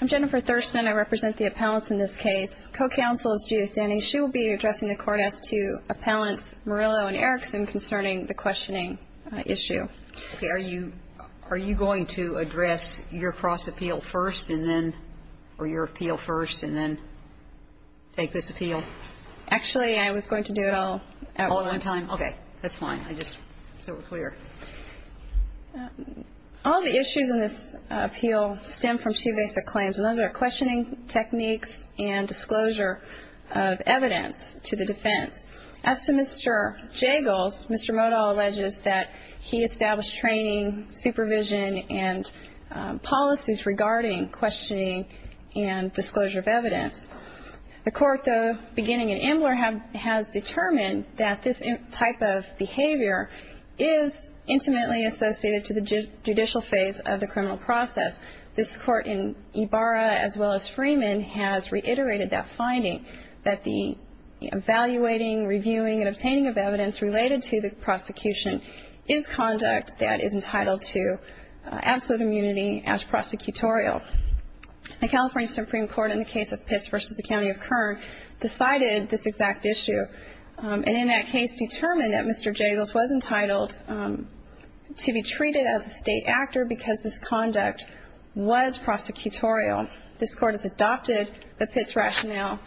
I'm Jennifer Thurston. I represent the appellants in this case. Co-counsel is Judith Denning. She will be addressing the court as to appellants Morillo and Erickson concerning the questioning issue. Are you going to address your cross appeal first and then, or your appeal first and then take this appeal? Actually, I was going to do it all at once. All at one time? Okay. That's fine. I just, so we're clear. All the issues in this appeal stem from two basic claims, and those are questioning techniques and disclosure of evidence to the defense. As to Mr. Jagles, Mr. Modahl alleges that he established training, supervision, and policies regarding questioning and disclosure of evidence. The court, though, beginning in Ambler, has determined that this type of behavior is intimately associated to the judicial phase of the criminal process. This court in Ibarra, as well as Freeman, has reiterated that finding, that the evaluating, reviewing, and obtaining of evidence related to the prosecution is conduct that is entitled to absolute immunity as prosecutorial. The California Supreme Court in the case of Pitts v. the County of Kern decided this exact issue, and in that case determined that Mr. Jagles was entitled to be treated as a state actor because this conduct was prosecutorial. This court has adopted the Pitts rationale,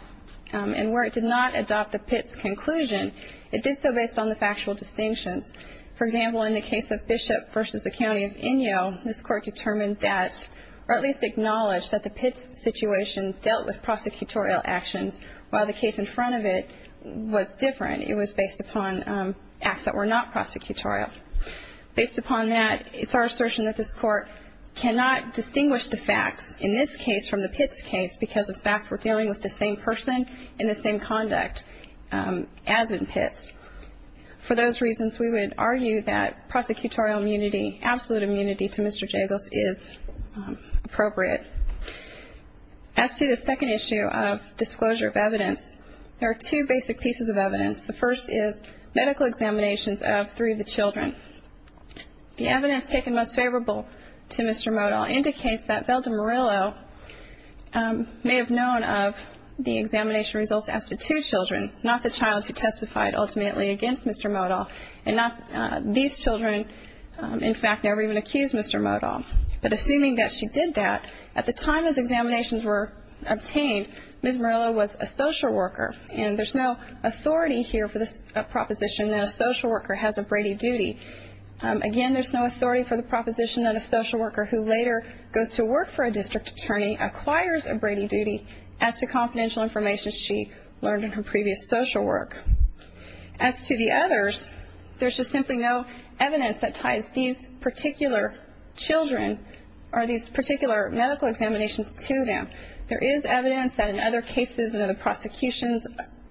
and where it did not adopt the Pitts conclusion, it did so based on the factual distinctions. For example, in the case of Bishop v. the County of Inyo, this court determined that, or at least acknowledged that the Pitts situation dealt with prosecutorial actions, while the case in front of it was different. It was based upon acts that were not prosecutorial. Based upon that, it's our assertion that this court cannot distinguish the facts in this case from the Pitts case because, in fact, we're dealing with the same person and the same conduct as in Pitts. For those reasons, we would argue that prosecutorial immunity, absolute immunity to Mr. Jagles is appropriate. As to the second issue of disclosure of evidence, there are two basic pieces of evidence. The first is medical examinations of three of the children. The evidence taken most favorable to Mr. Modal indicates that Velda Murillo may have known of the examination results as to two children, not the child who testified ultimately against Mr. Modal, and these children, in fact, never even accused Mr. Modal. But assuming that she did that, at the time those examinations were obtained, Ms. Murillo was a social worker, and there's no authority here for the proposition that a social worker has a Brady duty. Again, there's no authority for the proposition that a social worker who later goes to work for a district attorney acquires a Brady duty as to confidential information she learned in her previous social work. As to the others, there's just simply no evidence that ties these particular children or these particular medical examinations to them. There is evidence that in other cases and in the prosecutions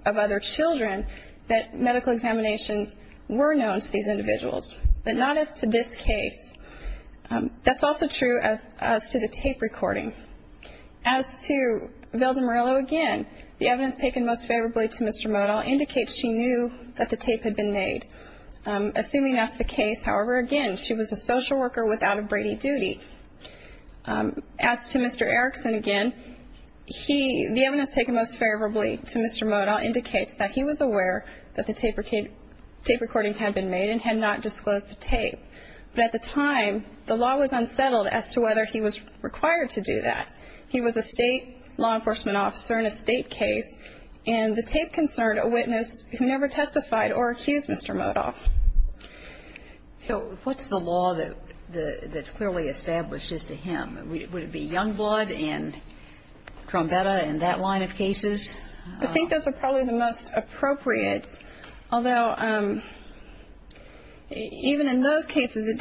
of other children that medical examinations were known to these individuals, but not as to this case. That's also true as to the tape recording. As to Velda Murillo, again, the evidence taken most favorably to Mr. Modal indicates she knew that the tape had been made. Assuming that's the case, however, again, she was a social worker without a Brady duty. As to Mr. Erickson, again, the evidence taken most favorably to Mr. Modal indicates that he was aware that the tape recording had been made and had not disclosed the tape. But at the time, the law was unsettled as to whether he was required to do that. He was a state law enforcement officer in a state case, and the tape concerned a witness who never testified or accused Mr. Modal. So what's the law that's clearly established as to him? Would it be young blood and trombetta in that line of cases? I think those are probably the most appropriate, although even in those cases, it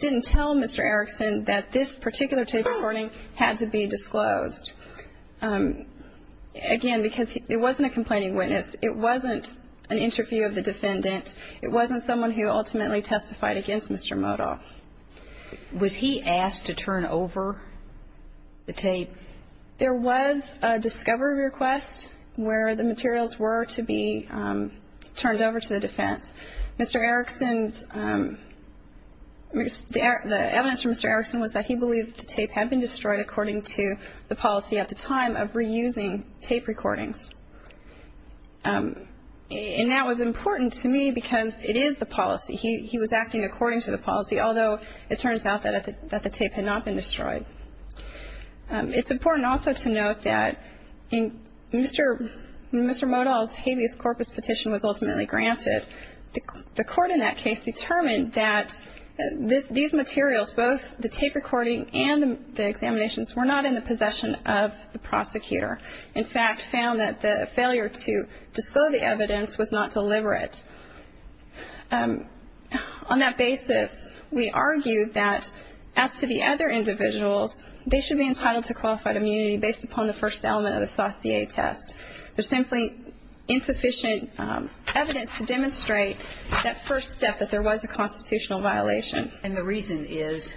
didn't tell Mr. Erickson that this particular tape recording had to be disclosed. Again, because it wasn't a complaining witness. It wasn't an interview of the defendant. It wasn't someone who ultimately testified against Mr. Modal. Was he asked to turn over the tape? There was a discovery request where the materials were to be turned over to the defense. Mr. Erickson's – the evidence from Mr. Erickson was that he believed the tape had been destroyed according to the policy at the time of reusing tape recordings. And that was important to me because it is the policy. He was acting according to the policy, although it turns out that the tape had not been destroyed. It's important also to note that in Mr. Modal's habeas corpus petition was ultimately granted. The court in that case determined that these materials, both the tape recording and the examinations, were not in the possession of the prosecutor. In fact, found that the failure to disclose the evidence was not deliberate. On that basis, we argue that as to the other individuals, they should be entitled to qualified immunity based upon the first element of the Saussure test. There's simply insufficient evidence to demonstrate that first step, that there was a constitutional violation. And the reason is?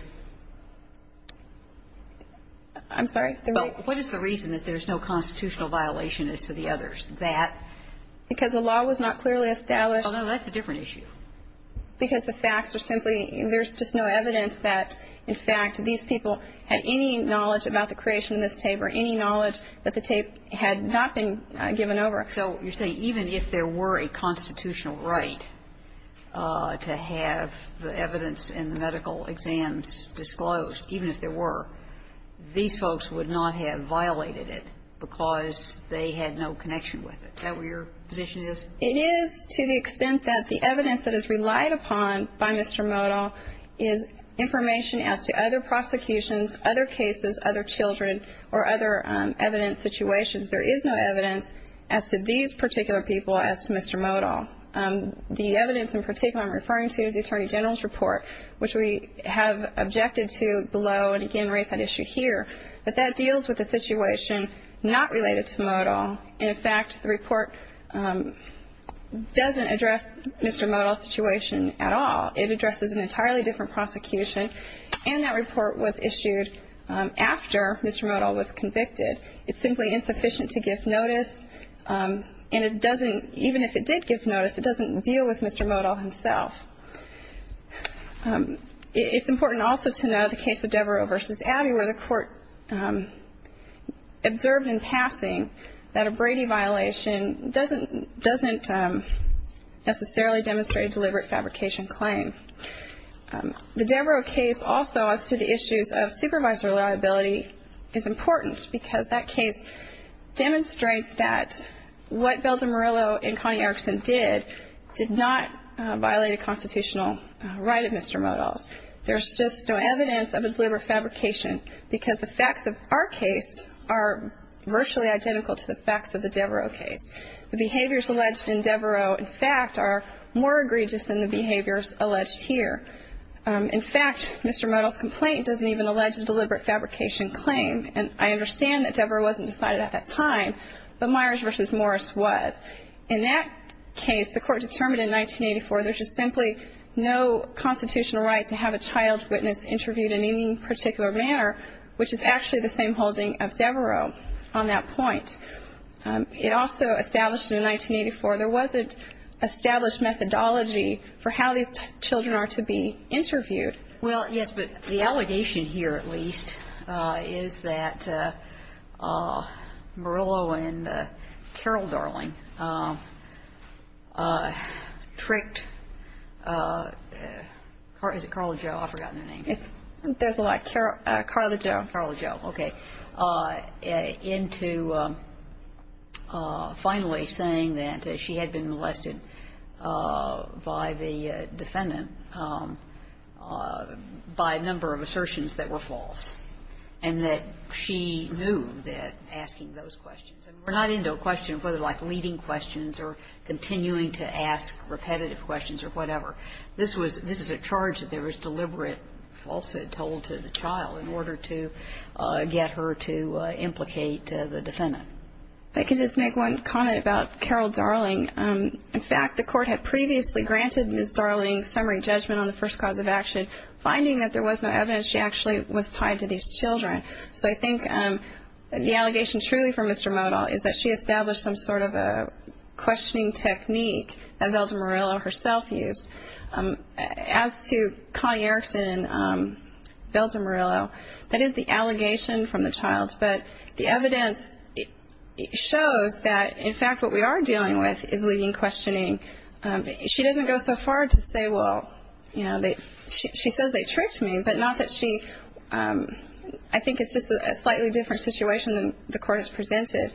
I'm sorry? What is the reason that there's no constitutional violation as to the others? Because the law was not clearly established. Oh, no, that's a different issue. Because the facts are simply, there's just no evidence that, in fact, these people had any knowledge about the creation of this tape or any knowledge that the tape had not been given over. So you're saying even if there were a constitutional right to have the evidence in the medical exams disclosed, even if there were, these folks would not have violated it because they had no connection with it. Is that where your position is? It is to the extent that the evidence that is relied upon by Mr. Modal is information as to other prosecutions, other cases, other children, or other evidence situations. There is no evidence as to these particular people as to Mr. Modal. The evidence in particular I'm referring to is the Attorney General's report, which we have objected to below and, again, raise that issue here. But that deals with a situation not related to Modal. In fact, the report doesn't address Mr. Modal's situation at all. It addresses an entirely different prosecution, and that report was issued after Mr. Modal was convicted. It's simply insufficient to give notice. And it doesn't, even if it did give notice, it doesn't deal with Mr. Modal himself. It's important also to know the case of Devereux v. Abbey where the court observed in passing that a Brady violation doesn't necessarily demonstrate a deliberate fabrication claim. The Devereux case also as to the issues of supervisor liability is important because that case demonstrates that what Valdemarillo and Connie Erickson did did not violate a constitutional right of Mr. Modal's. There's just no evidence of a deliberate fabrication because the facts of our case are virtually identical to the facts of the Devereux case. The behaviors alleged in Devereux, in fact, are more egregious than the behaviors alleged here. In fact, Mr. Modal's complaint doesn't even allege a deliberate fabrication claim. And I understand that Devereux wasn't decided at that time, but Myers v. Morris was. In that case, the court determined in 1984 there's just simply no constitutional right to have a child witness interviewed in any particular manner, which is actually the same holding of Devereux on that point. It also established in 1984 there was an established methodology for how these children are to be interviewed. Well, yes, but the allegation here at least is that Morillo and Carol Darling tricked Carly Jo, I've forgotten her name. There's a lot. Carly Jo. Carly Jo, okay. Into finally saying that she had been molested by the defendant by a number of assertions that were false, and that she knew that asking those questions, and we're not into leading questions or continuing to ask repetitive questions or whatever, this was a charge that there was deliberate falsehood told to the child in order to get her to implicate the defendant. I could just make one comment about Carol Darling. In fact, the court had previously granted Ms. Darling summary judgment on the first cause of action, finding that there was no evidence she actually was tied to these children. So I think the allegation truly from Mr. Modal is that she established some sort of a questioning technique that Velda Morillo herself used. As to Connie Erickson and Velda Morillo, that is the allegation from the child, but the evidence shows that, in fact, what we are dealing with is leading questioning. She doesn't go so far to say, well, you know, she says they tricked me, but not that she, I think it's just a slightly different situation than the court has presented.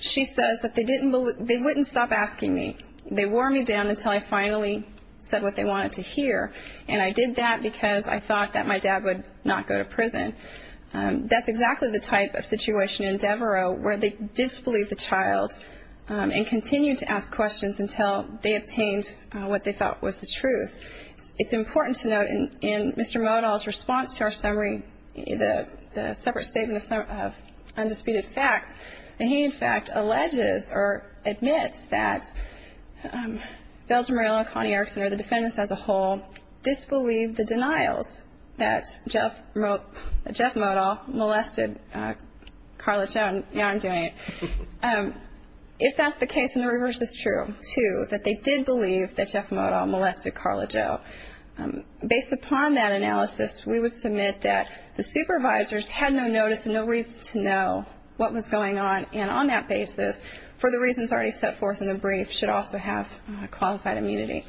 She says that they didn't, they wouldn't stop asking me. They wore me down until I finally said what they wanted to hear, and I did that because I thought that my dad would not go to prison. That's exactly the type of situation in Devereaux where they disbelieved the child and continued to ask questions until they obtained what they thought was the truth. It's important to note in Mr. Modal's response to our summary, the separate statement of undisputed facts, that he, in fact, alleges or admits that Velda Morillo, Connie Erickson, or the defendants as a whole disbelieved the denials that Jeff Modal molested Carla Jones. Now I'm doing it. If that's the case, then the reverse is true, too, that they did believe that Jeff Modal molested Carla Joe. Based upon that analysis, we would submit that the supervisors had no notice and no reason to know what was going on, and on that basis, for the reasons already set forth in the brief, should also have qualified immunity.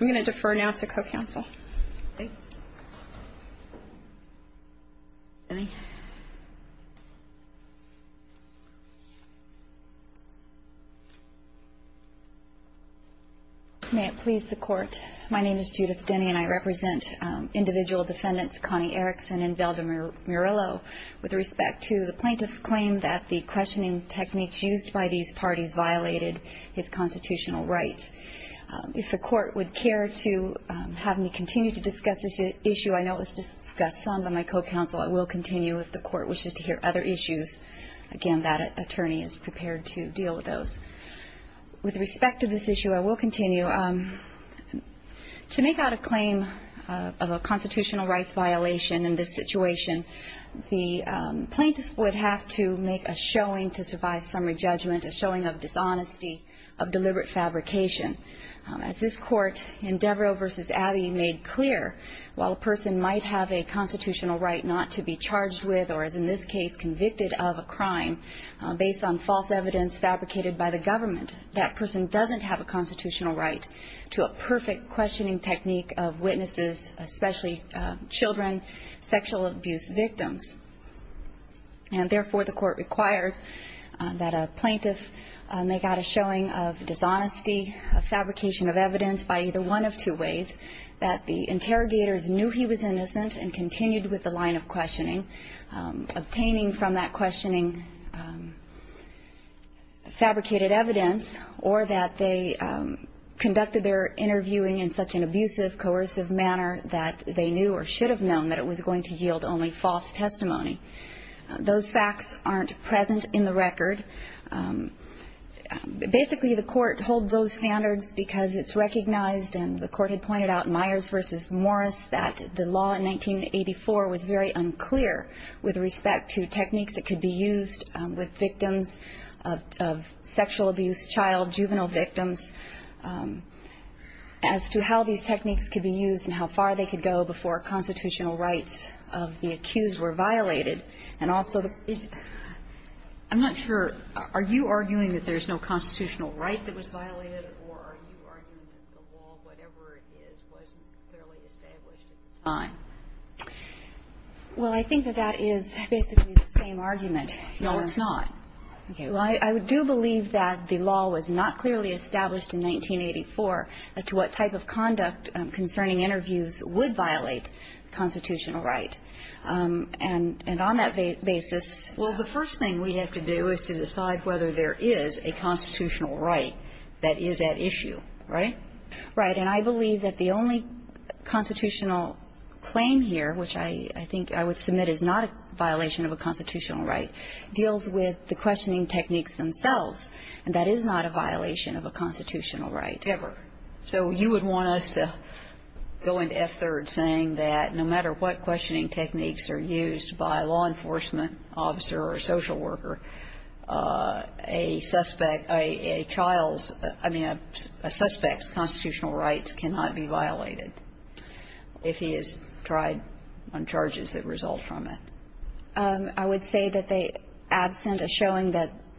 I'm going to defer now to co-counsel. Denny? May it please the Court. My name is Judith Denny, and I represent individual defendants Connie Erickson and Velda Morillo with respect to the plaintiff's claim that the questioning techniques used by these parties violated his constitutional rights. If the Court would care to have me continue to discuss this issue, I know it was discussed some by my co-counsel. I will continue if the Court wishes to hear other issues. Again, that attorney is prepared to deal with those. With respect to this issue, I will continue. To make out a claim of a constitutional rights violation in this situation, the plaintiff would have to make a showing to survive summary judgment, a showing of dishonesty, of deliberate fabrication. As this Court in Devereux v. Abbey made clear, while a person might have a constitutional right not to be charged with or, as in this case, convicted of a crime based on false evidence fabricated by the government, that person doesn't have a constitutional right to a perfect questioning technique of witnesses, especially children, sexual abuse victims. And therefore, the Court requires that a plaintiff make out a showing of dishonesty, of fabrication of evidence by either one of two ways, that the interrogators knew he was innocent and continued with the line of questioning, obtaining from that questioning fabricated evidence, or that they conducted their interviewing in such an abusive, coercive manner that they knew or should have known that it was going to yield only false testimony. Those facts aren't present in the record. Basically, the Court holds those standards because it's recognized and the Court had pointed out in Myers v. Morris that the law in 1984 was very unclear with respect to techniques that could be used with victims of sexual abuse, child, juvenile victims, as to how these techniques could be used and how far they could go before constitutional rights of the accused were violated. And also, I'm not sure. Are you arguing that there's no constitutional right that was violated, or are you arguing that the law, whatever it is, wasn't clearly established at the time? Well, I think that that is basically the same argument. No, it's not. Okay. Well, I do believe that the law was not clearly established in 1984 as to what type of conduct concerning interviews would violate constitutional right. And on that basis ---- Well, the first thing we have to do is to decide whether there is a constitutional right that is at issue, right? Right. And I believe that the only constitutional claim here, which I think I would submit is not a violation of a constitutional right, deals with the questioning techniques themselves, and that is not a violation of a constitutional right. Ever. So you would want us to go into F-3rd saying that no matter what questioning techniques are used by a law enforcement officer or a social worker, a suspect ---- I mean, a suspect's constitutional rights cannot be violated if he is tried on charges that result from it. I would say that absent a showing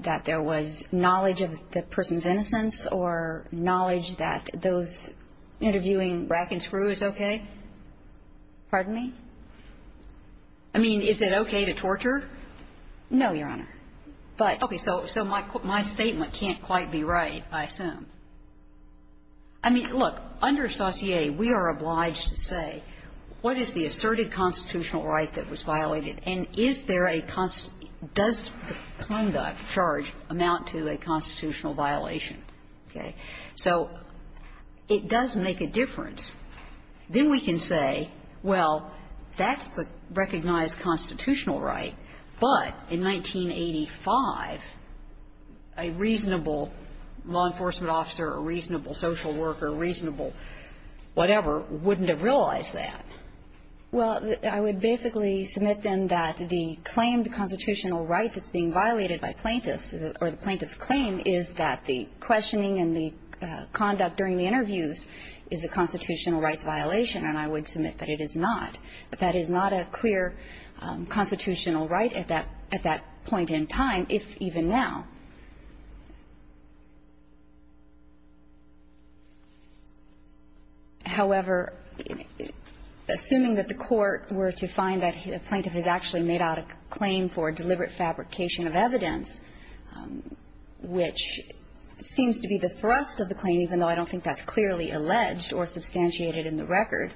that there was knowledge of the person's interviewing Brackenscrew is okay? Pardon me? I mean, is it okay to torture? No, Your Honor. But ---- Okay. So my statement can't quite be right, I assume. I mean, look, under Saussure, we are obliged to say what is the asserted constitutional right that was violated, and is there a ---- does the conduct charge amount to a constitutional violation, okay? So it does make a difference. Then we can say, well, that's the recognized constitutional right, but in 1985, a reasonable law enforcement officer, a reasonable social worker, a reasonable whatever, wouldn't have realized that. Well, I would basically submit then that the claim, the constitutional right that's being violated by plaintiffs, or the plaintiff's claim, is that the questioning and the conduct during the interviews is a constitutional rights violation, and I would submit that it is not. That is not a clear constitutional right at that point in time, if even now. However, assuming that the court were to find that a plaintiff has actually made a claim for deliberate fabrication of evidence, which seems to be the thrust of the claim, even though I don't think that's clearly alleged or substantiated in the record,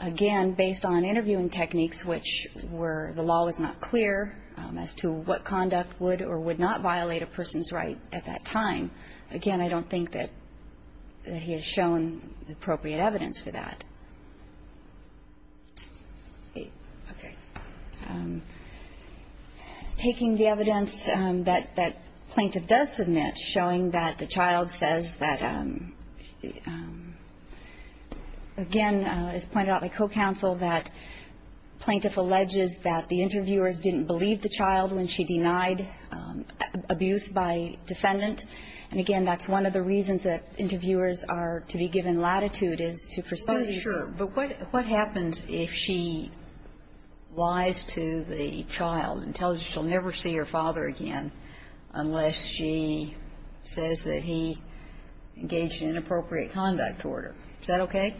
again, based on interviewing techniques, which were the law was not clear as to what conduct would or would not violate a person's right at that time, again, I don't think that he has shown appropriate evidence for that. Okay. Taking the evidence that plaintiff does submit, showing that the child says that, again, as pointed out by co-counsel, that plaintiff alleges that the interviewers didn't believe the child when she denied abuse by defendant. And, again, that's one of the reasons that interviewers are to be given latitude is to pursue the child. But what happens if she lies to the child and tells you she'll never see her father again unless she says that he engaged in inappropriate conduct toward her? Is that okay?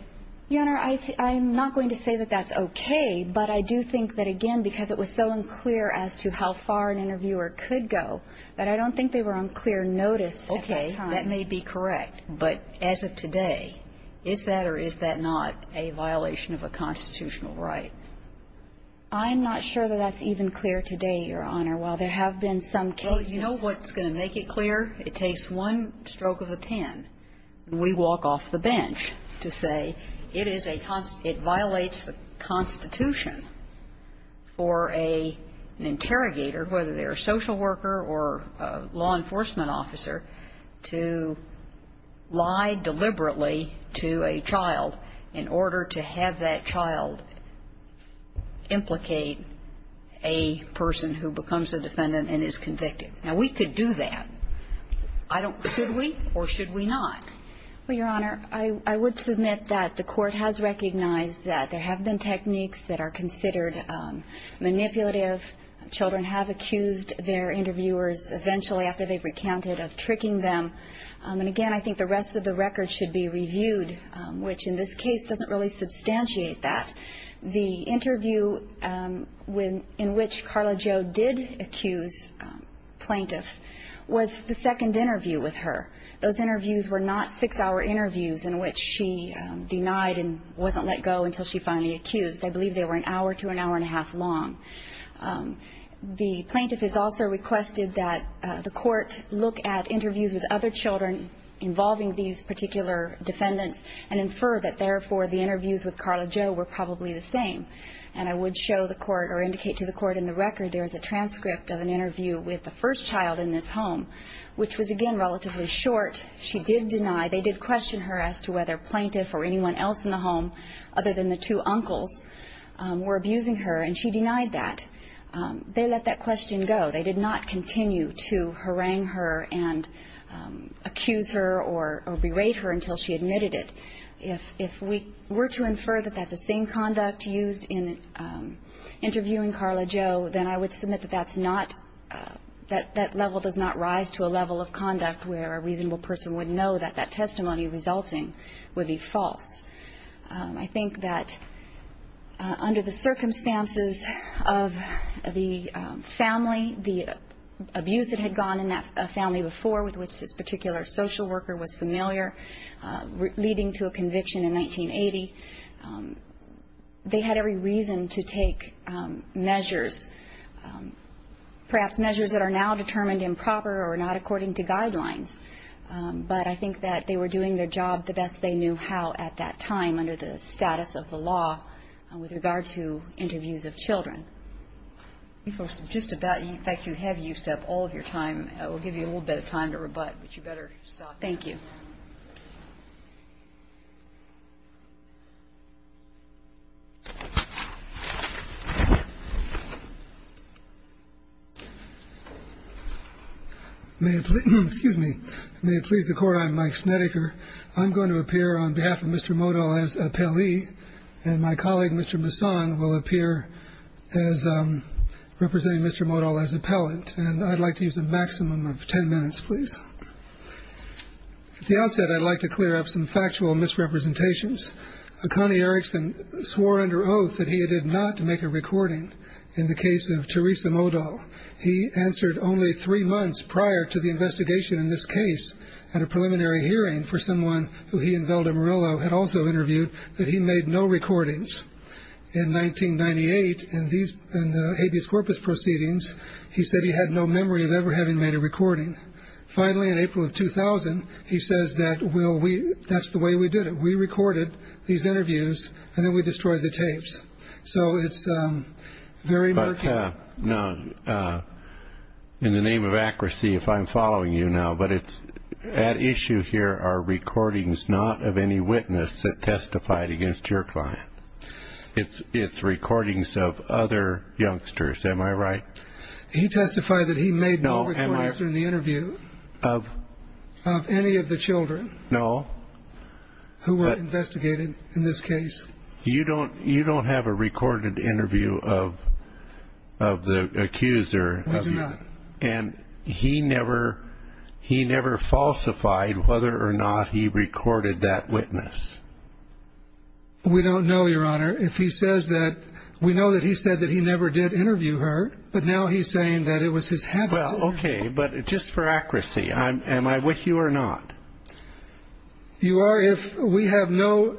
Your Honor, I'm not going to say that that's okay, but I do think that, again, because it was so unclear as to how far an interviewer could go, that I don't think they were on clear notice at that time. Okay. That may be correct. But as of today, is that or is that not a violation of a constitutional right? I'm not sure that that's even clear today, Your Honor, while there have been some cases. Well, you know what's going to make it clear? It takes one stroke of a pen. We walk off the bench to say it is a constitution, it violates the Constitution for an interrogator, whether they're a social worker or a law enforcement officer, to lie deliberately to a child in order to have that child implicate a person who becomes a defendant and is convicted. Now, we could do that. Should we or should we not? Well, Your Honor, I would submit that the Court has recognized that there have been techniques that are considered manipulative. Children have accused their interviewers eventually after they've recounted of tricking them. And, again, I think the rest of the record should be reviewed, which in this case doesn't really substantiate that. The interview in which Carla Jo did accuse plaintiff was the second interview with her. Those interviews were not six-hour interviews in which she denied and wasn't let go until she finally accused. I believe they were an hour to an hour and a half long. The plaintiff has also requested that the Court look at interviews with other children involving these particular defendants and infer that, therefore, the interviews with Carla Jo were probably the same. And I would show the Court or indicate to the Court in the record there is a transcript of an interview with the first child in this home, which was, again, relatively short. She did deny. They did question her as to whether plaintiff or anyone else in the home, other than the two uncles, were abusing her, and she denied that. They let that question go. They did not continue to harangue her and accuse her or berate her until she admitted it. If we were to infer that that's the same conduct used in interviewing Carla Jo, then I would submit that that's not, that that level does not rise to a level of conduct where a reasonable person would know that that testimony resulting would be false. I think that under the circumstances of the family, the abuse that had gone in that family before, with which this particular social worker was familiar, leading to a conviction in 1980, they had every reason to take measures, perhaps measures that are now determined improper or not according to guidelines. But I think that they were doing their job the best they knew how at that time under the status of the law with regard to interviews of children. Just about, in fact, you have used up all of your time. We'll give you a little bit of time to rebut, but you better stop. Thank you. May it please me. May it please the court. I'm Mike Snedeker. I'm going to appear on behalf of Mr. Modell as appellee. And my colleague, Mr. Masson, will appear as representing Mr. Modell as appellant. And I'd like to use a maximum of ten minutes, please. At the outset, I'd like to clear up some factual misrepresentations. Connie Erickson swore under oath that he did not make a recording in the case of Teresa Modell. He answered only three months prior to the investigation in this case at a preliminary hearing for someone who he and Velda Murillo had also interviewed that he made no recordings. In 1998, in the habeas corpus proceedings, he said he had no memory of ever having made a recording. Finally, in April of 2000, he says that that's the way we did it. We recorded these interviews, and then we destroyed the tapes. So it's very murky. Now, in the name of accuracy, if I'm following you now, but at issue here are recordings not of any witness that testified against your client. It's recordings of other youngsters. Am I right? He testified that he made no recordings in the interview of any of the children who were investigated in this case. You don't have a recorded interview of the accuser. We do not. And he never falsified whether or not he recorded that witness. We don't know, Your Honor, if he says that. We know that he said that he never did interview her, but now he's saying that it was his habit. Well, okay, but just for accuracy, am I with you or not? You are if we have no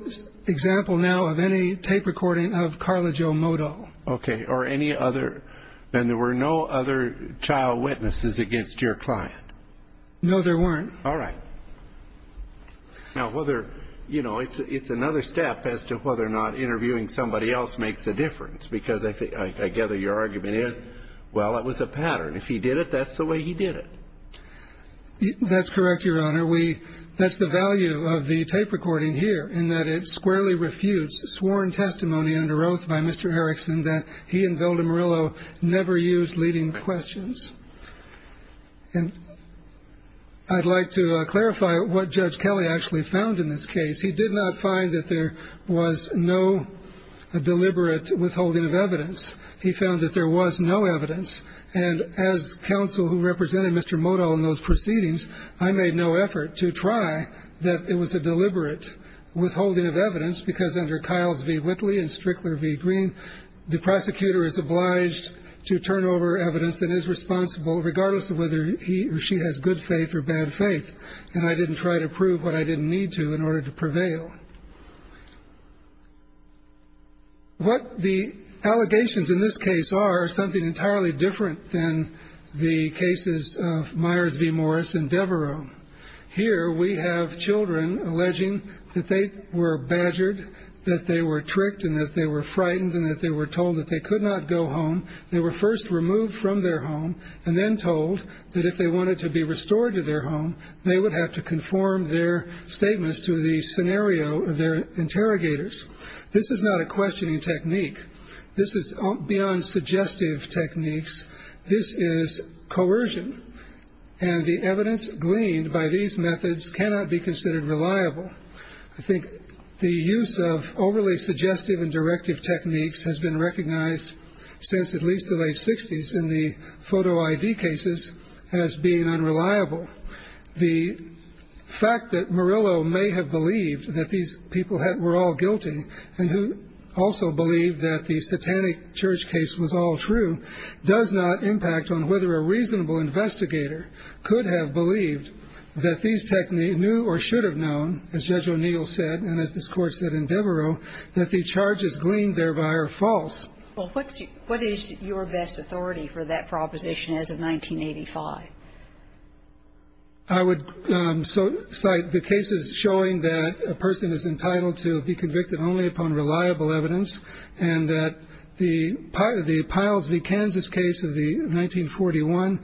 example now of any tape recording of Carla Jo Modell. Okay, or any other, and there were no other child witnesses against your client? No, there weren't. All right. Now, whether, you know, it's another step as to whether or not interviewing somebody else makes a difference, because I gather your argument is, well, it was a pattern. If he did it, that's the way he did it. That's correct, Your Honor. That's the value of the tape recording here, in that it squarely refutes sworn testimony under oath by Mr. Erickson that he and Vilda Murillo never used leading questions. And I'd like to clarify what Judge Kelly actually found in this case. He did not find that there was no deliberate withholding of evidence. He found that there was no evidence. And as counsel who represented Mr. Modell in those proceedings, I made no effort to try that it was a deliberate withholding of evidence, because under Kyles v. Whitley and Strickler v. Green, the prosecutor is obliged to turn over evidence and is responsible, regardless of whether he or she has good faith or bad faith. And I didn't try to prove what I didn't need to in order to prevail. What the allegations in this case are is something entirely different than the cases of Myers v. Morris and Devereux. Here we have children alleging that they were badgered, that they were tricked and that they were frightened and that they were told that they could not go home. They were first removed from their home and then told that if they wanted to be restored to their home, they would have to conform their statements to the scenario of their interrogators. This is not a questioning technique. This is beyond suggestive techniques. This is coercion. And the evidence gleaned by these methods cannot be considered reliable. I think the use of overly suggestive and directive techniques has been recognized since at least the late 60s in the photo ID cases as being unreliable. The fact that Murillo may have believed that these people were all guilty and who also believed that the satanic church case was all true does not impact on whether a reasonable investigator could have believed that these techniques knew or should have known, as Judge O'Neill said and as this Court said in Devereux, that the charges gleaned thereby are false. Well, what is your best authority for that proposition as of 1985? I would cite the cases showing that a person is entitled to be convicted only upon reliable evidence and that the Piles v. Kansas case of the 1941,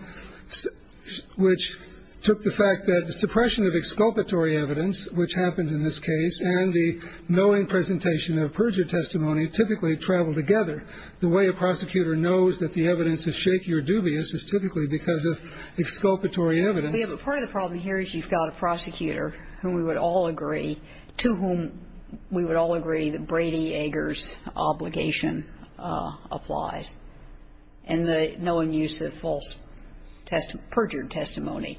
which took the fact that the suppression of exculpatory evidence, which happened in this case, and the knowing presentation of perjured testimony typically travel together. The way a prosecutor knows that the evidence is shaky or dubious is typically because of exculpatory evidence. We have a part of the problem here is you've got a prosecutor whom we would all agree to whom we would all agree that Brady-Ager's obligation applies, and the knowing use of false perjured testimony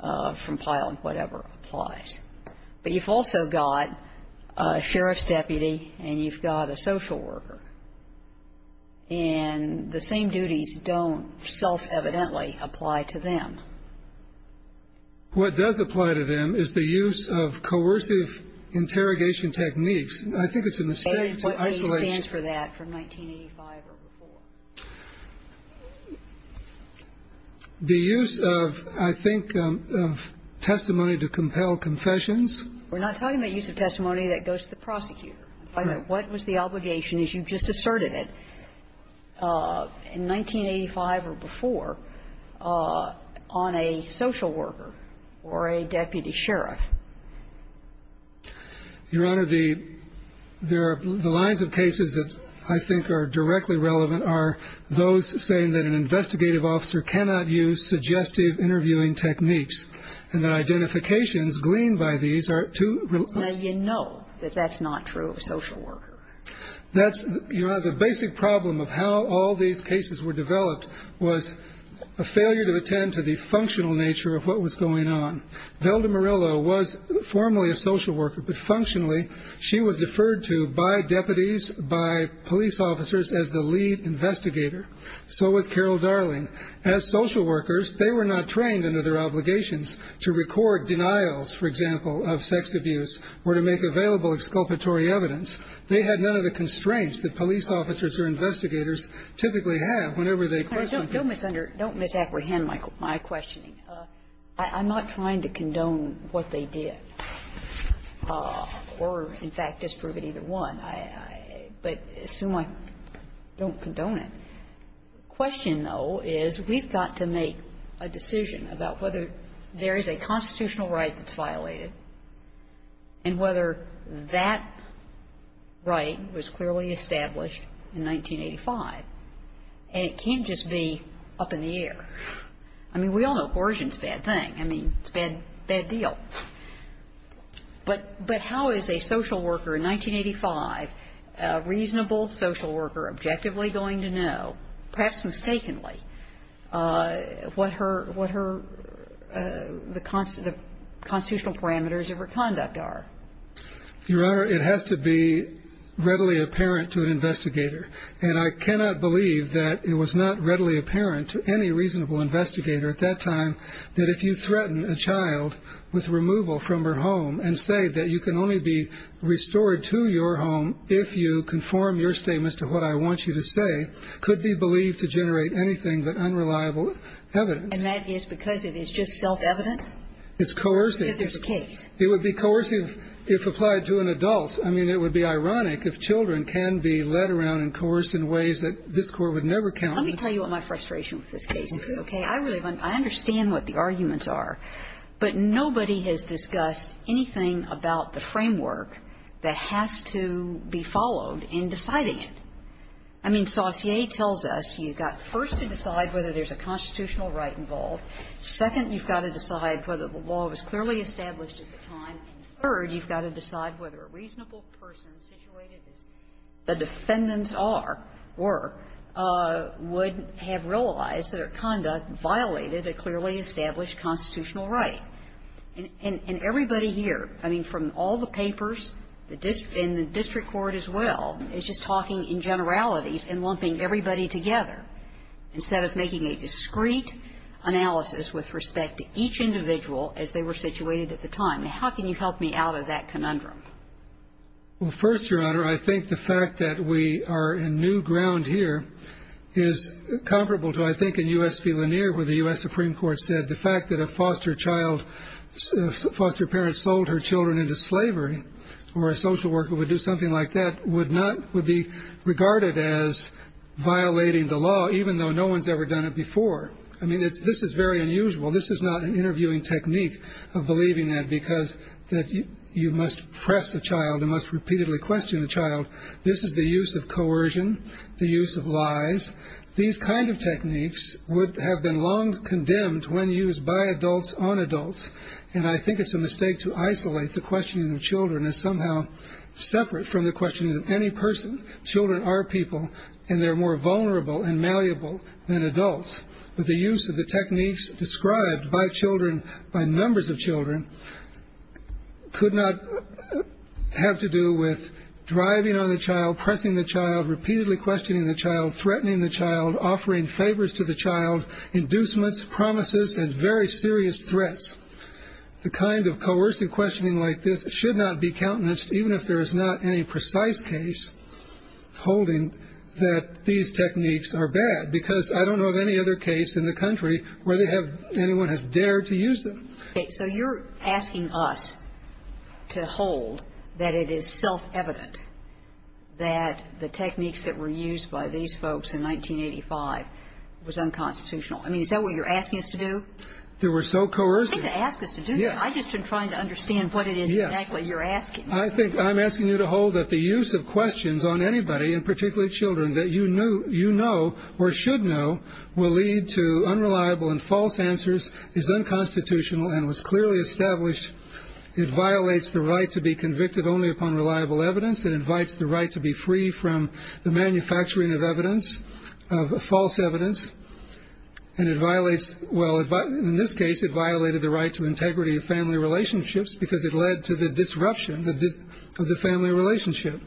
from Pile, whatever, applies. But you've also got a sheriff's deputy and you've got a social worker, and the same duties don't self-evidently apply to them. What does apply to them is the use of coercive interrogation techniques. I think it's a mistake to isolate. And what reason stands for that from 1985 or before? The use of, I think, of testimony to compel confessions. We're not talking about use of testimony that goes to the prosecutor. Right. What was the obligation, as you just asserted it, in 1985 or before, on a social worker or a deputy sheriff? Your Honor, the lines of cases that I think are directly relevant are those saying that an investigative officer cannot use suggestive interviewing techniques and that identifications gleaned by these are too real. Now, you know that that's not true of a social worker. That's, Your Honor, the basic problem of how all these cases were developed was a failure to attend to the functional nature of what was going on. Velda Murillo was formerly a social worker, but functionally she was deferred to by deputies, by police officers, as the lead investigator. So was Carol Darling. As social workers, they were not trained under their obligations to record denials, for example, of sex abuse or to make available exculpatory evidence. They had none of the constraints that police officers or investigators typically have whenever they question people. Don't misapprehend my questioning. I'm not trying to condone what they did or, in fact, disprove it either one. I assume I don't condone it. The question, though, is we've got to make a decision about whether there is a constitutional right that's violated and whether that right was clearly established in 1985. And it can't just be up in the air. I mean, we all know coercion is a bad thing. I mean, it's a bad deal. But how is a social worker in 1985, a reasonable social worker, objectively going to know, perhaps mistakenly, what her the constitutional parameters of her conduct are? Your Honor, it has to be readily apparent to an investigator. And I cannot believe that it was not readily apparent to any reasonable investigator at that time that if you threaten a child with removal from her home and say that you can only be restored to your home if you conform your statements to what I want you to say could be believed to generate anything but unreliable evidence. And that is because it is just self-evident? It's coercive. Because there's a case. It would be coercive if applied to an adult. I mean, it would be ironic if children can be led around and coerced in ways that this Court would never count on. Let me tell you what my frustration with this case is, okay? I really want to understand what the arguments are. But nobody has discussed anything about the framework that has to be followed in deciding it. I mean, Saussure tells us you've got, first, to decide whether there's a constitutional right involved. Second, you've got to decide whether the law was clearly established at the time. And third, you've got to decide whether a reasonable person situated as the defendants are or would have realized that her conduct violated a clearly established constitutional right. And everybody here, I mean, from all the papers, the district and the district court as well, is just talking in generalities and lumping everybody together instead of making a discreet analysis with respect to each individual as they were situated at the time. How can you help me out of that conundrum? Well, first, Your Honor, I think the fact that we are in new ground here is comparable to, I think, in U.S. v. Lanier, where the U.S. Supreme Court said the fact that a foster child, foster parent sold her children into slavery or a social worker would do something like that would not, would be regarded as violating the law, even though no one's ever done it before. I mean, this is very unusual. This is not an interviewing technique of believing that because that you must press the child and must repeatedly question the child. This is the use of coercion, the use of lies. These kind of techniques would have been long condemned when used by adults on adults. And I think it's a mistake to isolate the questioning of children as somehow separate from the questioning of any person. Children are people, and they're more vulnerable and malleable than adults. But the use of the techniques described by children, by numbers of children, could not have to do with driving on the child, pressing the child, repeatedly questioning the child, threatening the child, offering favors to the child, inducements, promises, and very serious threats. The kind of coercive questioning like this should not be countenanced, even if there is not any precise case holding that these techniques are bad, because I don't know of any other case in the country where they have, anyone has dared to use them. Okay, so you're asking us to hold that it is self-evident that the techniques that were used by these folks in 1985 was unconstitutional. I mean, is that what you're asking us to do? They were so coercive. You shouldn't ask us to do that. I've just been trying to understand what it is exactly you're asking. I think I'm asking you to hold that the use of questions on anybody, and particularly children, that you know, or should know, will lead to unreliable and false answers is unconstitutional and was clearly established. It violates the right to be convicted only upon reliable evidence. It invites the right to be free from the manufacturing of evidence, of false evidence. And it violates, well, in this case, it violated the right to integrity of family relationships because it led to the disruption of the family relationship.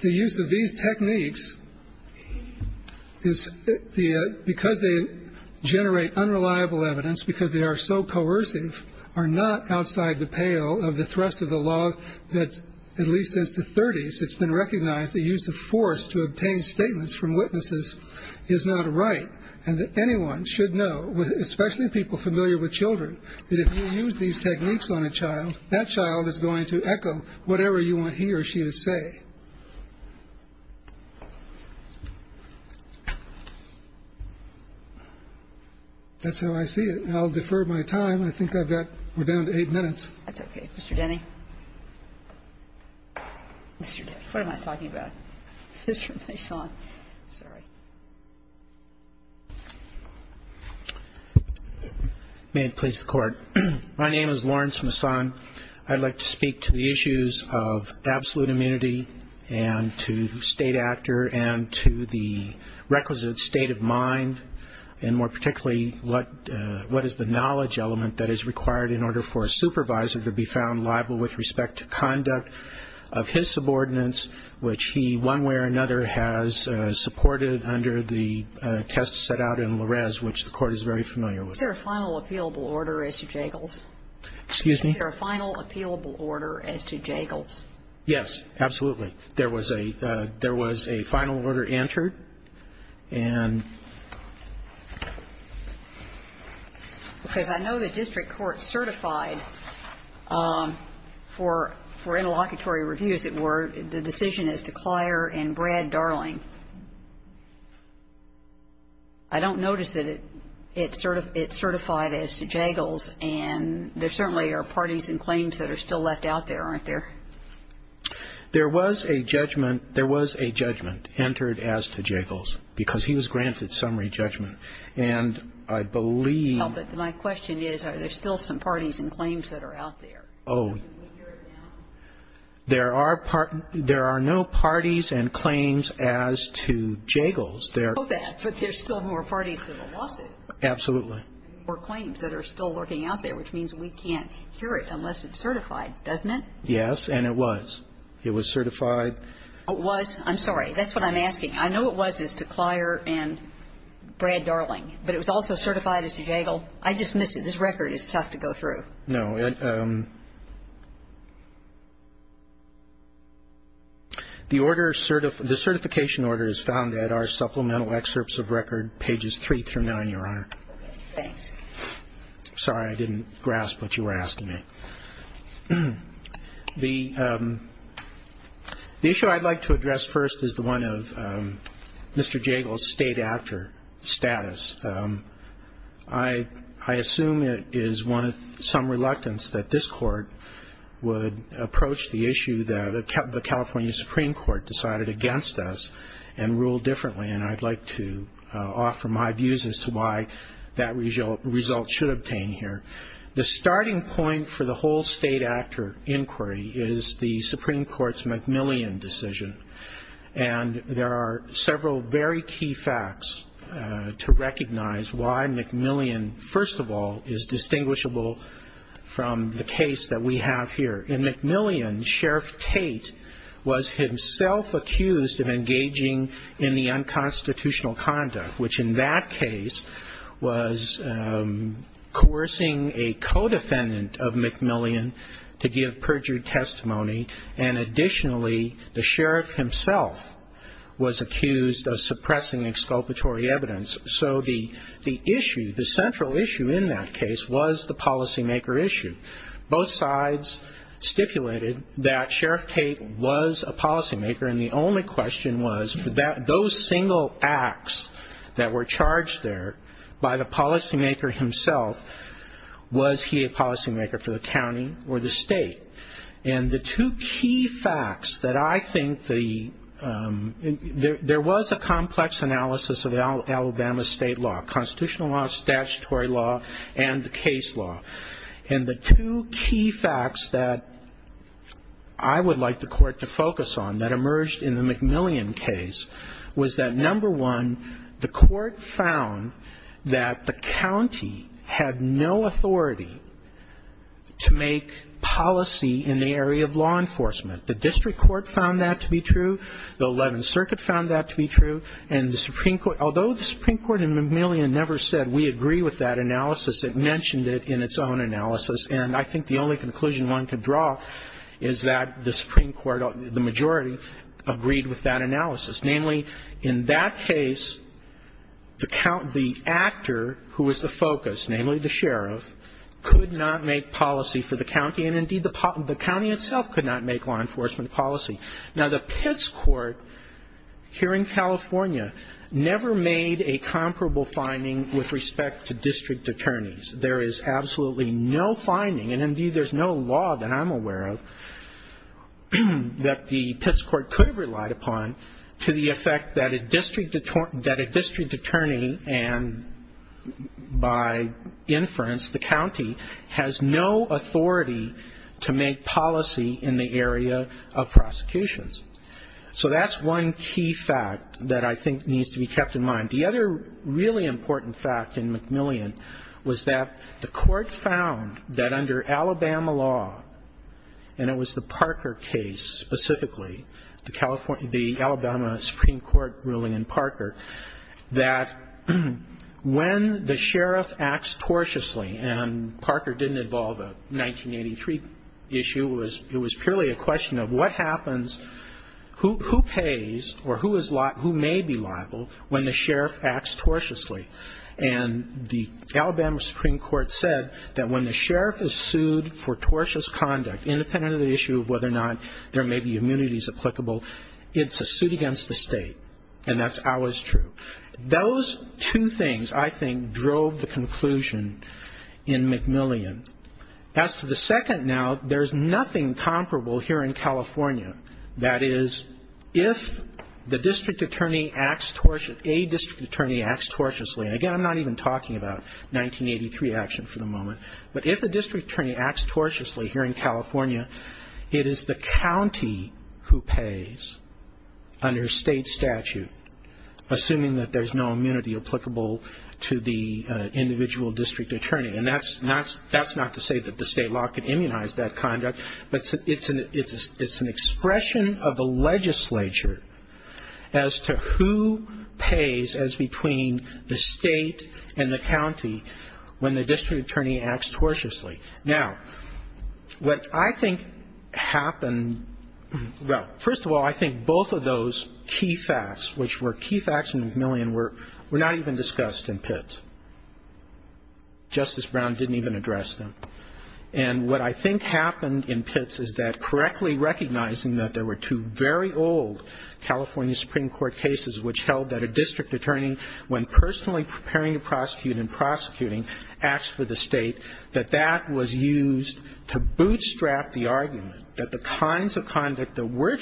The use of these techniques, because they generate unreliable evidence, because they are so coercive, are not outside the pale of the thrust of the law that, at least since the 30s, it's been recognized the use of force to obtain statements from witnesses is not right, and that anyone should know, especially people familiar with children, that if you use these techniques on a child, that child is going to echo whatever you want he or she to say. That's how I see it. And I'll defer my time. I think I've got we're down to eight minutes. Kagan. That's okay. Mr. Denny. Mr. Denny. What am I talking about? Mr. Masson. Sorry. May it please the Court. My name is Lawrence Masson. I'd like to speak to the issues of absolute immunity and to state actor and to the requisite state of mind, and more particularly what is the knowledge element that is required in order for a supervisor to be found liable with respect to conduct of his subordinates, which he one way or another has supported under the test set out in Larez, which the Court is very familiar with. Is there a final appealable order, Mr. Jagels? Excuse me? Is there a final appealable order as to Jagels? Yes, absolutely. There was a final order entered. Because I know the district court certified for interlocutory reviews, the decision is to Clier and Brad Darling. I don't notice that it's certified as to Jagels, and there certainly are parties and claims that are still left out there, aren't there? There was a judgment. There was a judgment entered as to Jagels, because he was granted summary judgment. And I believe my question is, are there still some parties and claims that are out there? Oh, there are no parties and claims as to Jagels. But there's still more parties to the lawsuit. Absolutely. There's still more parties to the lawsuit. There's still more claims that are still lurking out there, which means we can't hear it unless it's certified, doesn't it? Yes, and it was. It was certified. It was? I'm sorry. That's what I'm asking. I know it was as to Clier and Brad Darling, but it was also certified as to Jagels? I just missed it. This record is tough to go through. No. The certification order is found at our supplemental excerpts of record, pages three through nine, Your Honor. Thanks. Sorry, I didn't grasp what you were asking me. The issue I'd like to address first is the one of Mr. Jagels' state actor inquiry, and I'd like to offer my views as to why that result should obtain here. The starting point for the whole state actor inquiry is the Supreme Court's McMillian decision. And there are several very key facts to recognize why McMillian, first of all, is distinguishable from the case that we have here. In McMillian, Sheriff Tate was himself accused of engaging in the unconstitutional conduct, which in that case was coercing a co-defendant of McMillian to give perjured testimony, and additionally, the sheriff himself was accused of suppressing exculpatory evidence. So the issue, the central issue in that case was the policymaker issue. Both sides stipulated that Sheriff Tate was a policymaker, and the only question was, those single acts that were charged there by the policymaker himself, was he a policymaker for the county or the state? And the two key facts that I think there was a complex analysis of in Alabama state law, constitutional law, statutory law, and the case law. And the two key facts that I would like the court to focus on that emerged in the McMillian case was that, number one, the court found that the county had no authority to make policy in the area of law enforcement. The district court found that to be true. The 11th Circuit found that to be true. And the Supreme Court, although the Supreme Court in McMillian never said we agree with that analysis, it mentioned it in its own analysis. And I think the only conclusion one could draw is that the Supreme Court, the majority, agreed with that analysis. Namely, in that case, the count, the actor who was the focus, namely the sheriff, could not make policy for the county. And indeed, the county itself could not make law enforcement policy. Now, the Pitts Court, here in California, never made a comparable finding with respect to district attorneys. There is absolutely no finding, and indeed there's no law that I'm aware of, that the Pitts Court could have relied upon to the effect that a district attorney, and by inference, the county, has no authority to make policy in the area of prosecutions. So that's one key fact that I think needs to be kept in mind. The other really important fact in McMillian was that the court found that under Alabama law, and it was the Parker case specifically, the Alabama Supreme Court ruling in Parker, that when the sheriff acts cautiously, and Parker didn't involve a who pays or who may be liable when the sheriff acts cautiously. And the Alabama Supreme Court said that when the sheriff is sued for cautious conduct, independent of the issue of whether or not there may be immunities applicable, it's a suit against the state. And that's always true. Those two things, I think, drove the conclusion in McMillian. As to the second now, there's nothing comparable here in California. That is, if a district attorney acts cautiously, and again, I'm not even talking about 1983 action for the moment, but if a district attorney acts cautiously here in California, it is the county who pays under state statute, assuming that there's no immunity applicable to the individual district attorney. And that's not to say that the state law can immunize that conduct, but it's an expression of the legislature as to who pays as between the state and the county when the district attorney acts cautiously. Now, what I think happened, well, first of all, I think both of those key facts, which were key facts in McMillian, were not even discussed in Pitts. Justice Brown didn't even address them. And what I think happened in Pitts is that, correctly recognizing that there were two very old California Supreme Court cases which held that a district attorney, when personally preparing to prosecute and prosecuting, asked for the state, that that was used to bootstrap the argument that the kinds of conduct that were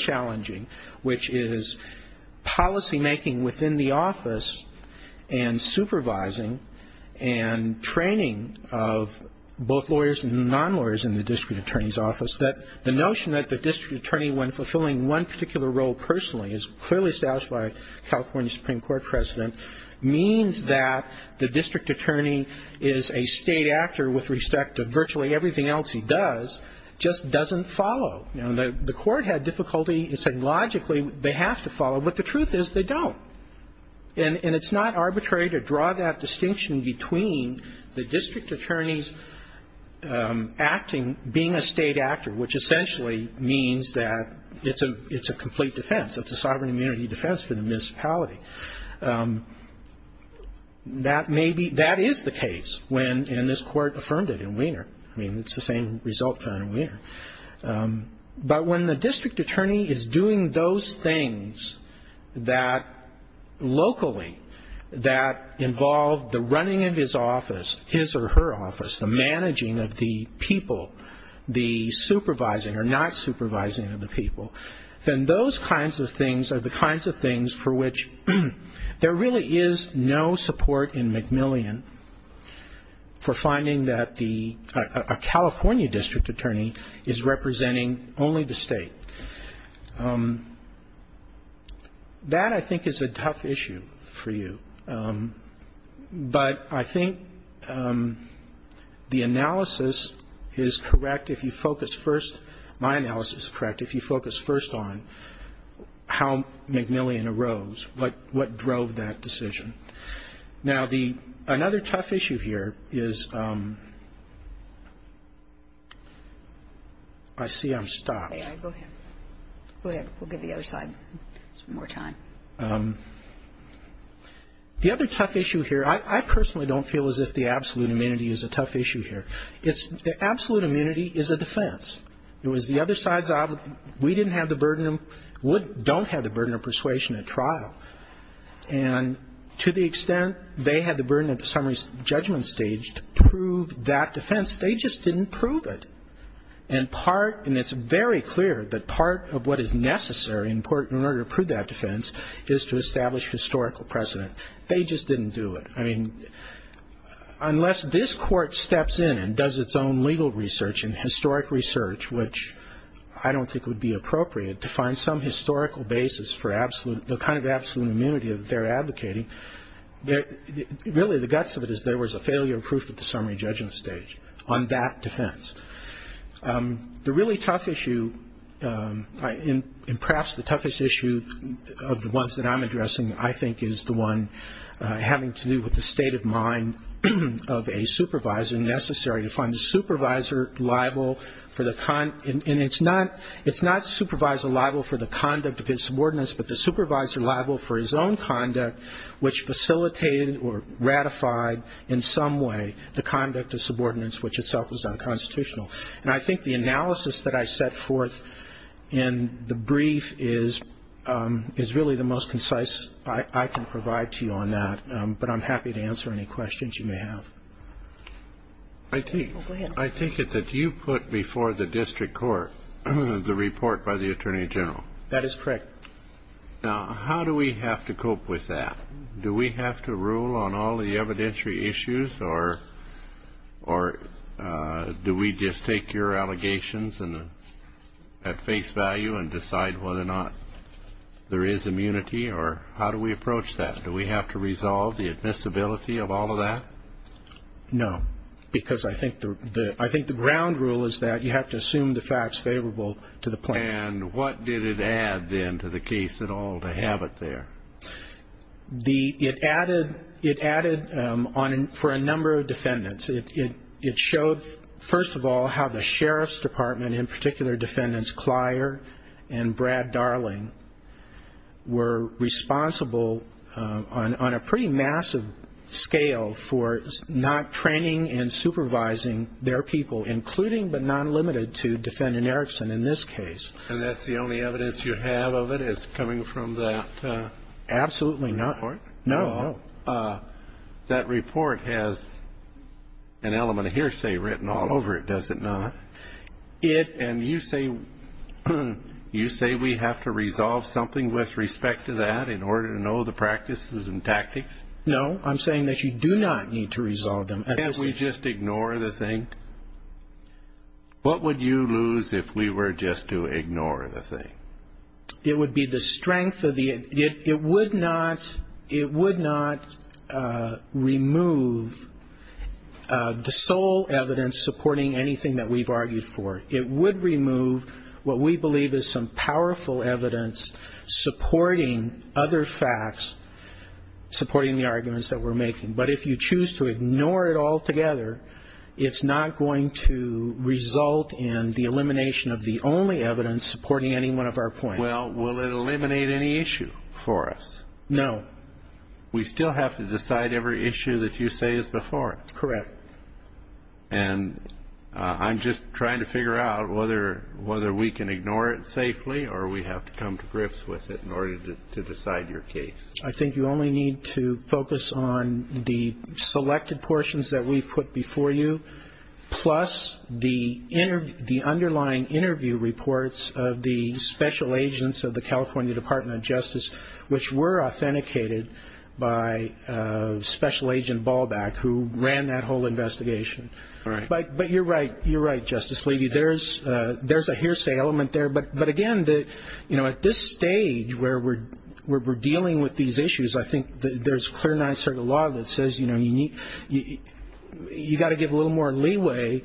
and training of both lawyers and non-lawyers in the district attorney's office, that the notion that the district attorney, when fulfilling one particular role personally, as clearly established by a California Supreme Court president, means that the district attorney is a state actor with respect to virtually everything else he does, just doesn't follow. You know, the court had difficulty in saying logically they have to follow, but the truth is they don't. And it's not arbitrary to draw that distinction between the district attorney's acting, being a state actor, which essentially means that it's a complete defense. It's a sovereign immunity defense for the municipality. That is the case, and this court affirmed it in Wiener. I mean, it's the same result found in Wiener. But when the district attorney is doing those things that locally, that involve the running of his office, his or her office, the managing of the people, the supervising or not supervising of the people, then those kinds of things are the kinds of things for which there really is no support in McMillian for finding that a California district attorney is representing only the state. That, I think, is a tough issue for you. But I think the analysis is correct if you focus first, my analysis is correct, if you focus first on how McMillian arose, what drove that decision. Now, another tough issue here is, I see I'm stopped. Go ahead. We'll give the other side some more time. The other tough issue here, I personally don't feel as if the absolute immunity is a tough issue here. The absolute immunity is a defense. It was the other side's, we didn't have the burden, don't have the burden of persuasion at trial. And to the extent they had the burden at the summary judgment stage to prove that defense, they just didn't prove it. And part, and it's very clear that part of what is necessary in order to prove that defense is to establish historical precedent. They just didn't do it. I mean, unless this court steps in and does its own legal research and historic research, which I don't think would be appropriate, to find some historical basis for the kind of absolute immunity that they're advocating, really the guts of it is there was a failure of proof at the summary judgment stage on that defense. The really tough issue, and perhaps the toughest issue of the ones that I'm addressing, I think is the one having to do with the state of mind of a supervisor, to find the supervisor liable for the, and it's not supervisor liable for the conduct of his subordinates, but the supervisor liable for his own conduct, which facilitated or ratified in some way the conduct of subordinates, which itself was unconstitutional. And I think the analysis that I set forth in the brief is really the most concise I can provide to you on that. But I'm happy to answer any questions you may have. I take it that you put before the district court the report by the attorney general. That is correct. Now, how do we have to cope with that? Do we have to rule on all the evidentiary issues, or do we just take your allegations at face value and decide whether or not there is immunity, or how do we approach that? Do we have to resolve the admissibility of all of that? No, because I think the ground rule is that you have to assume the facts favorable to the plaintiff. And what did it add, then, to the case at all to have it there? It added for a number of defendants. It showed, first of all, how the sheriff's department, and in particular defendants Clyer and Brad Darling, were responsible on a pretty massive scale for not training and supervising their people, including but not limited to defendant Erickson in this case. And that's the only evidence you have of it is coming from that report? Absolutely not. No. That report has an element of hearsay written all over it, does it not? And you say we have to resolve something with respect to that in order to know the practices and tactics? No, I'm saying that you do not need to resolve them. Can't we just ignore the thing? What would you lose if we were just to ignore the thing? It would be the strength of the ---- it would not remove the sole evidence supporting anything that we've argued for. It would remove what we believe is some powerful evidence supporting other facts, supporting the arguments that we're making. But if you choose to ignore it altogether, it's not going to result in the elimination of the only evidence supporting any one of our points. Well, will it eliminate any issue for us? No. We still have to decide every issue that you say is before it? Correct. And I'm just trying to figure out whether we can ignore it safely or we have to come to grips with it in order to decide your case? I think you only need to focus on the selected portions that we've put before you, plus the underlying interview reports of the special agents of the California Department of Justice, which were authenticated by Special Agent Ballback, who ran that whole investigation. But you're right, Justice Levy. There's a hearsay element there. But, again, you know, at this stage where we're dealing with these issues, I think there's clear nine-circle law that says, you know, you've got to give a little more leeway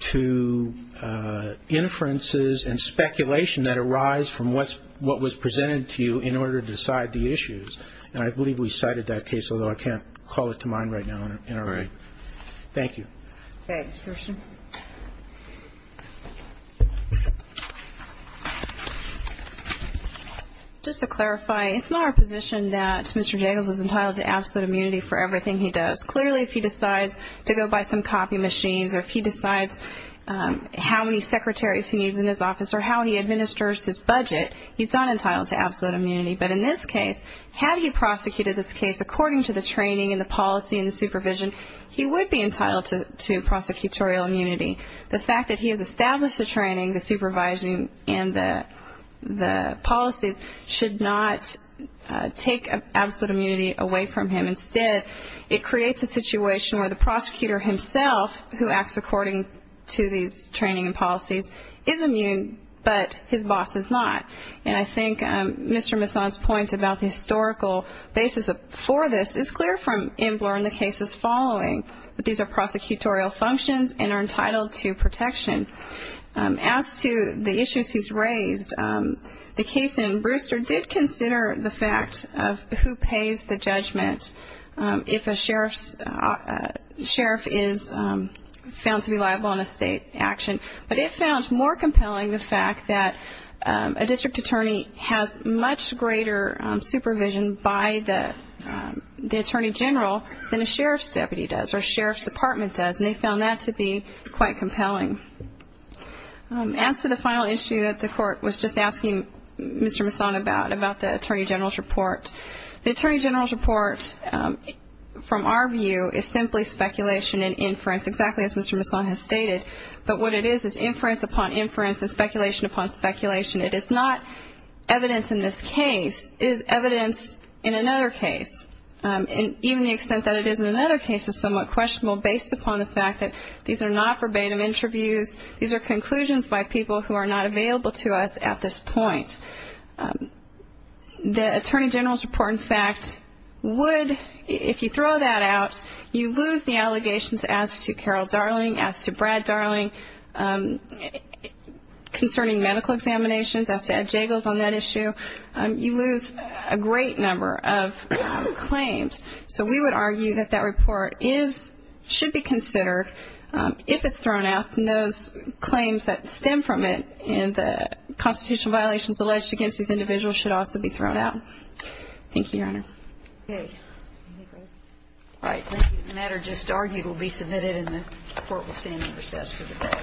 to inferences and speculation that arise from what was presented to you in order to decide the issues. And I believe we cited that case, although I can't call it to mind right now. All right. Thank you. Thanks. Ms. Thurston. Just to clarify, it's not our position that Mr. Jagels is entitled to absolute immunity for everything he does. Clearly, if he decides to go buy some copy machines or if he decides how many secretaries he needs in his office or how he administers his budget, he's not entitled to absolute immunity. But in this case, had he prosecuted this case according to the training and the policy and the supervision, he would be entitled to prosecutorial immunity. The fact that he has established the training, the supervising, and the policies should not take absolute immunity away from him. Instead, it creates a situation where the prosecutor himself, who acts according to these training and policies, is immune, but his boss is not. And I think Mr. Masson's point about the historical basis for this is clear from Imbler and the cases following that these are prosecutorial functions and are entitled to protection. As to the issues he's raised, the case in Brewster did consider the fact of who pays the judgment if a sheriff is found to be liable in a state action. But it found more compelling the fact that a district attorney has much greater supervision by the attorney general than a sheriff's deputy does or a sheriff's department does, and they found that to be quite compelling. As to the final issue that the court was just asking Mr. Masson about, about the attorney general's report, the attorney general's report, from our view, is simply speculation and inference, exactly as Mr. Masson has stated. But what it is is inference upon inference and speculation upon speculation. It is not evidence in this case. It is evidence in another case. And even the extent that it is in another case is somewhat questionable, based upon the fact that these are not verbatim interviews. These are conclusions by people who are not available to us at this point. The attorney general's report, in fact, would, if you throw that out, you lose the allegations as to Carol Darling, as to Brad Darling concerning medical examinations, as to Ed Jagels on that issue. You lose a great number of claims. So we would argue that that report should be considered if it's thrown out, and those claims that stem from it in the constitutional violations alleged against these individuals should also be thrown out. Thank you, Your Honor. Okay. All right. Thank you. The matter just argued will be submitted, and the Court will stand in recess for the day.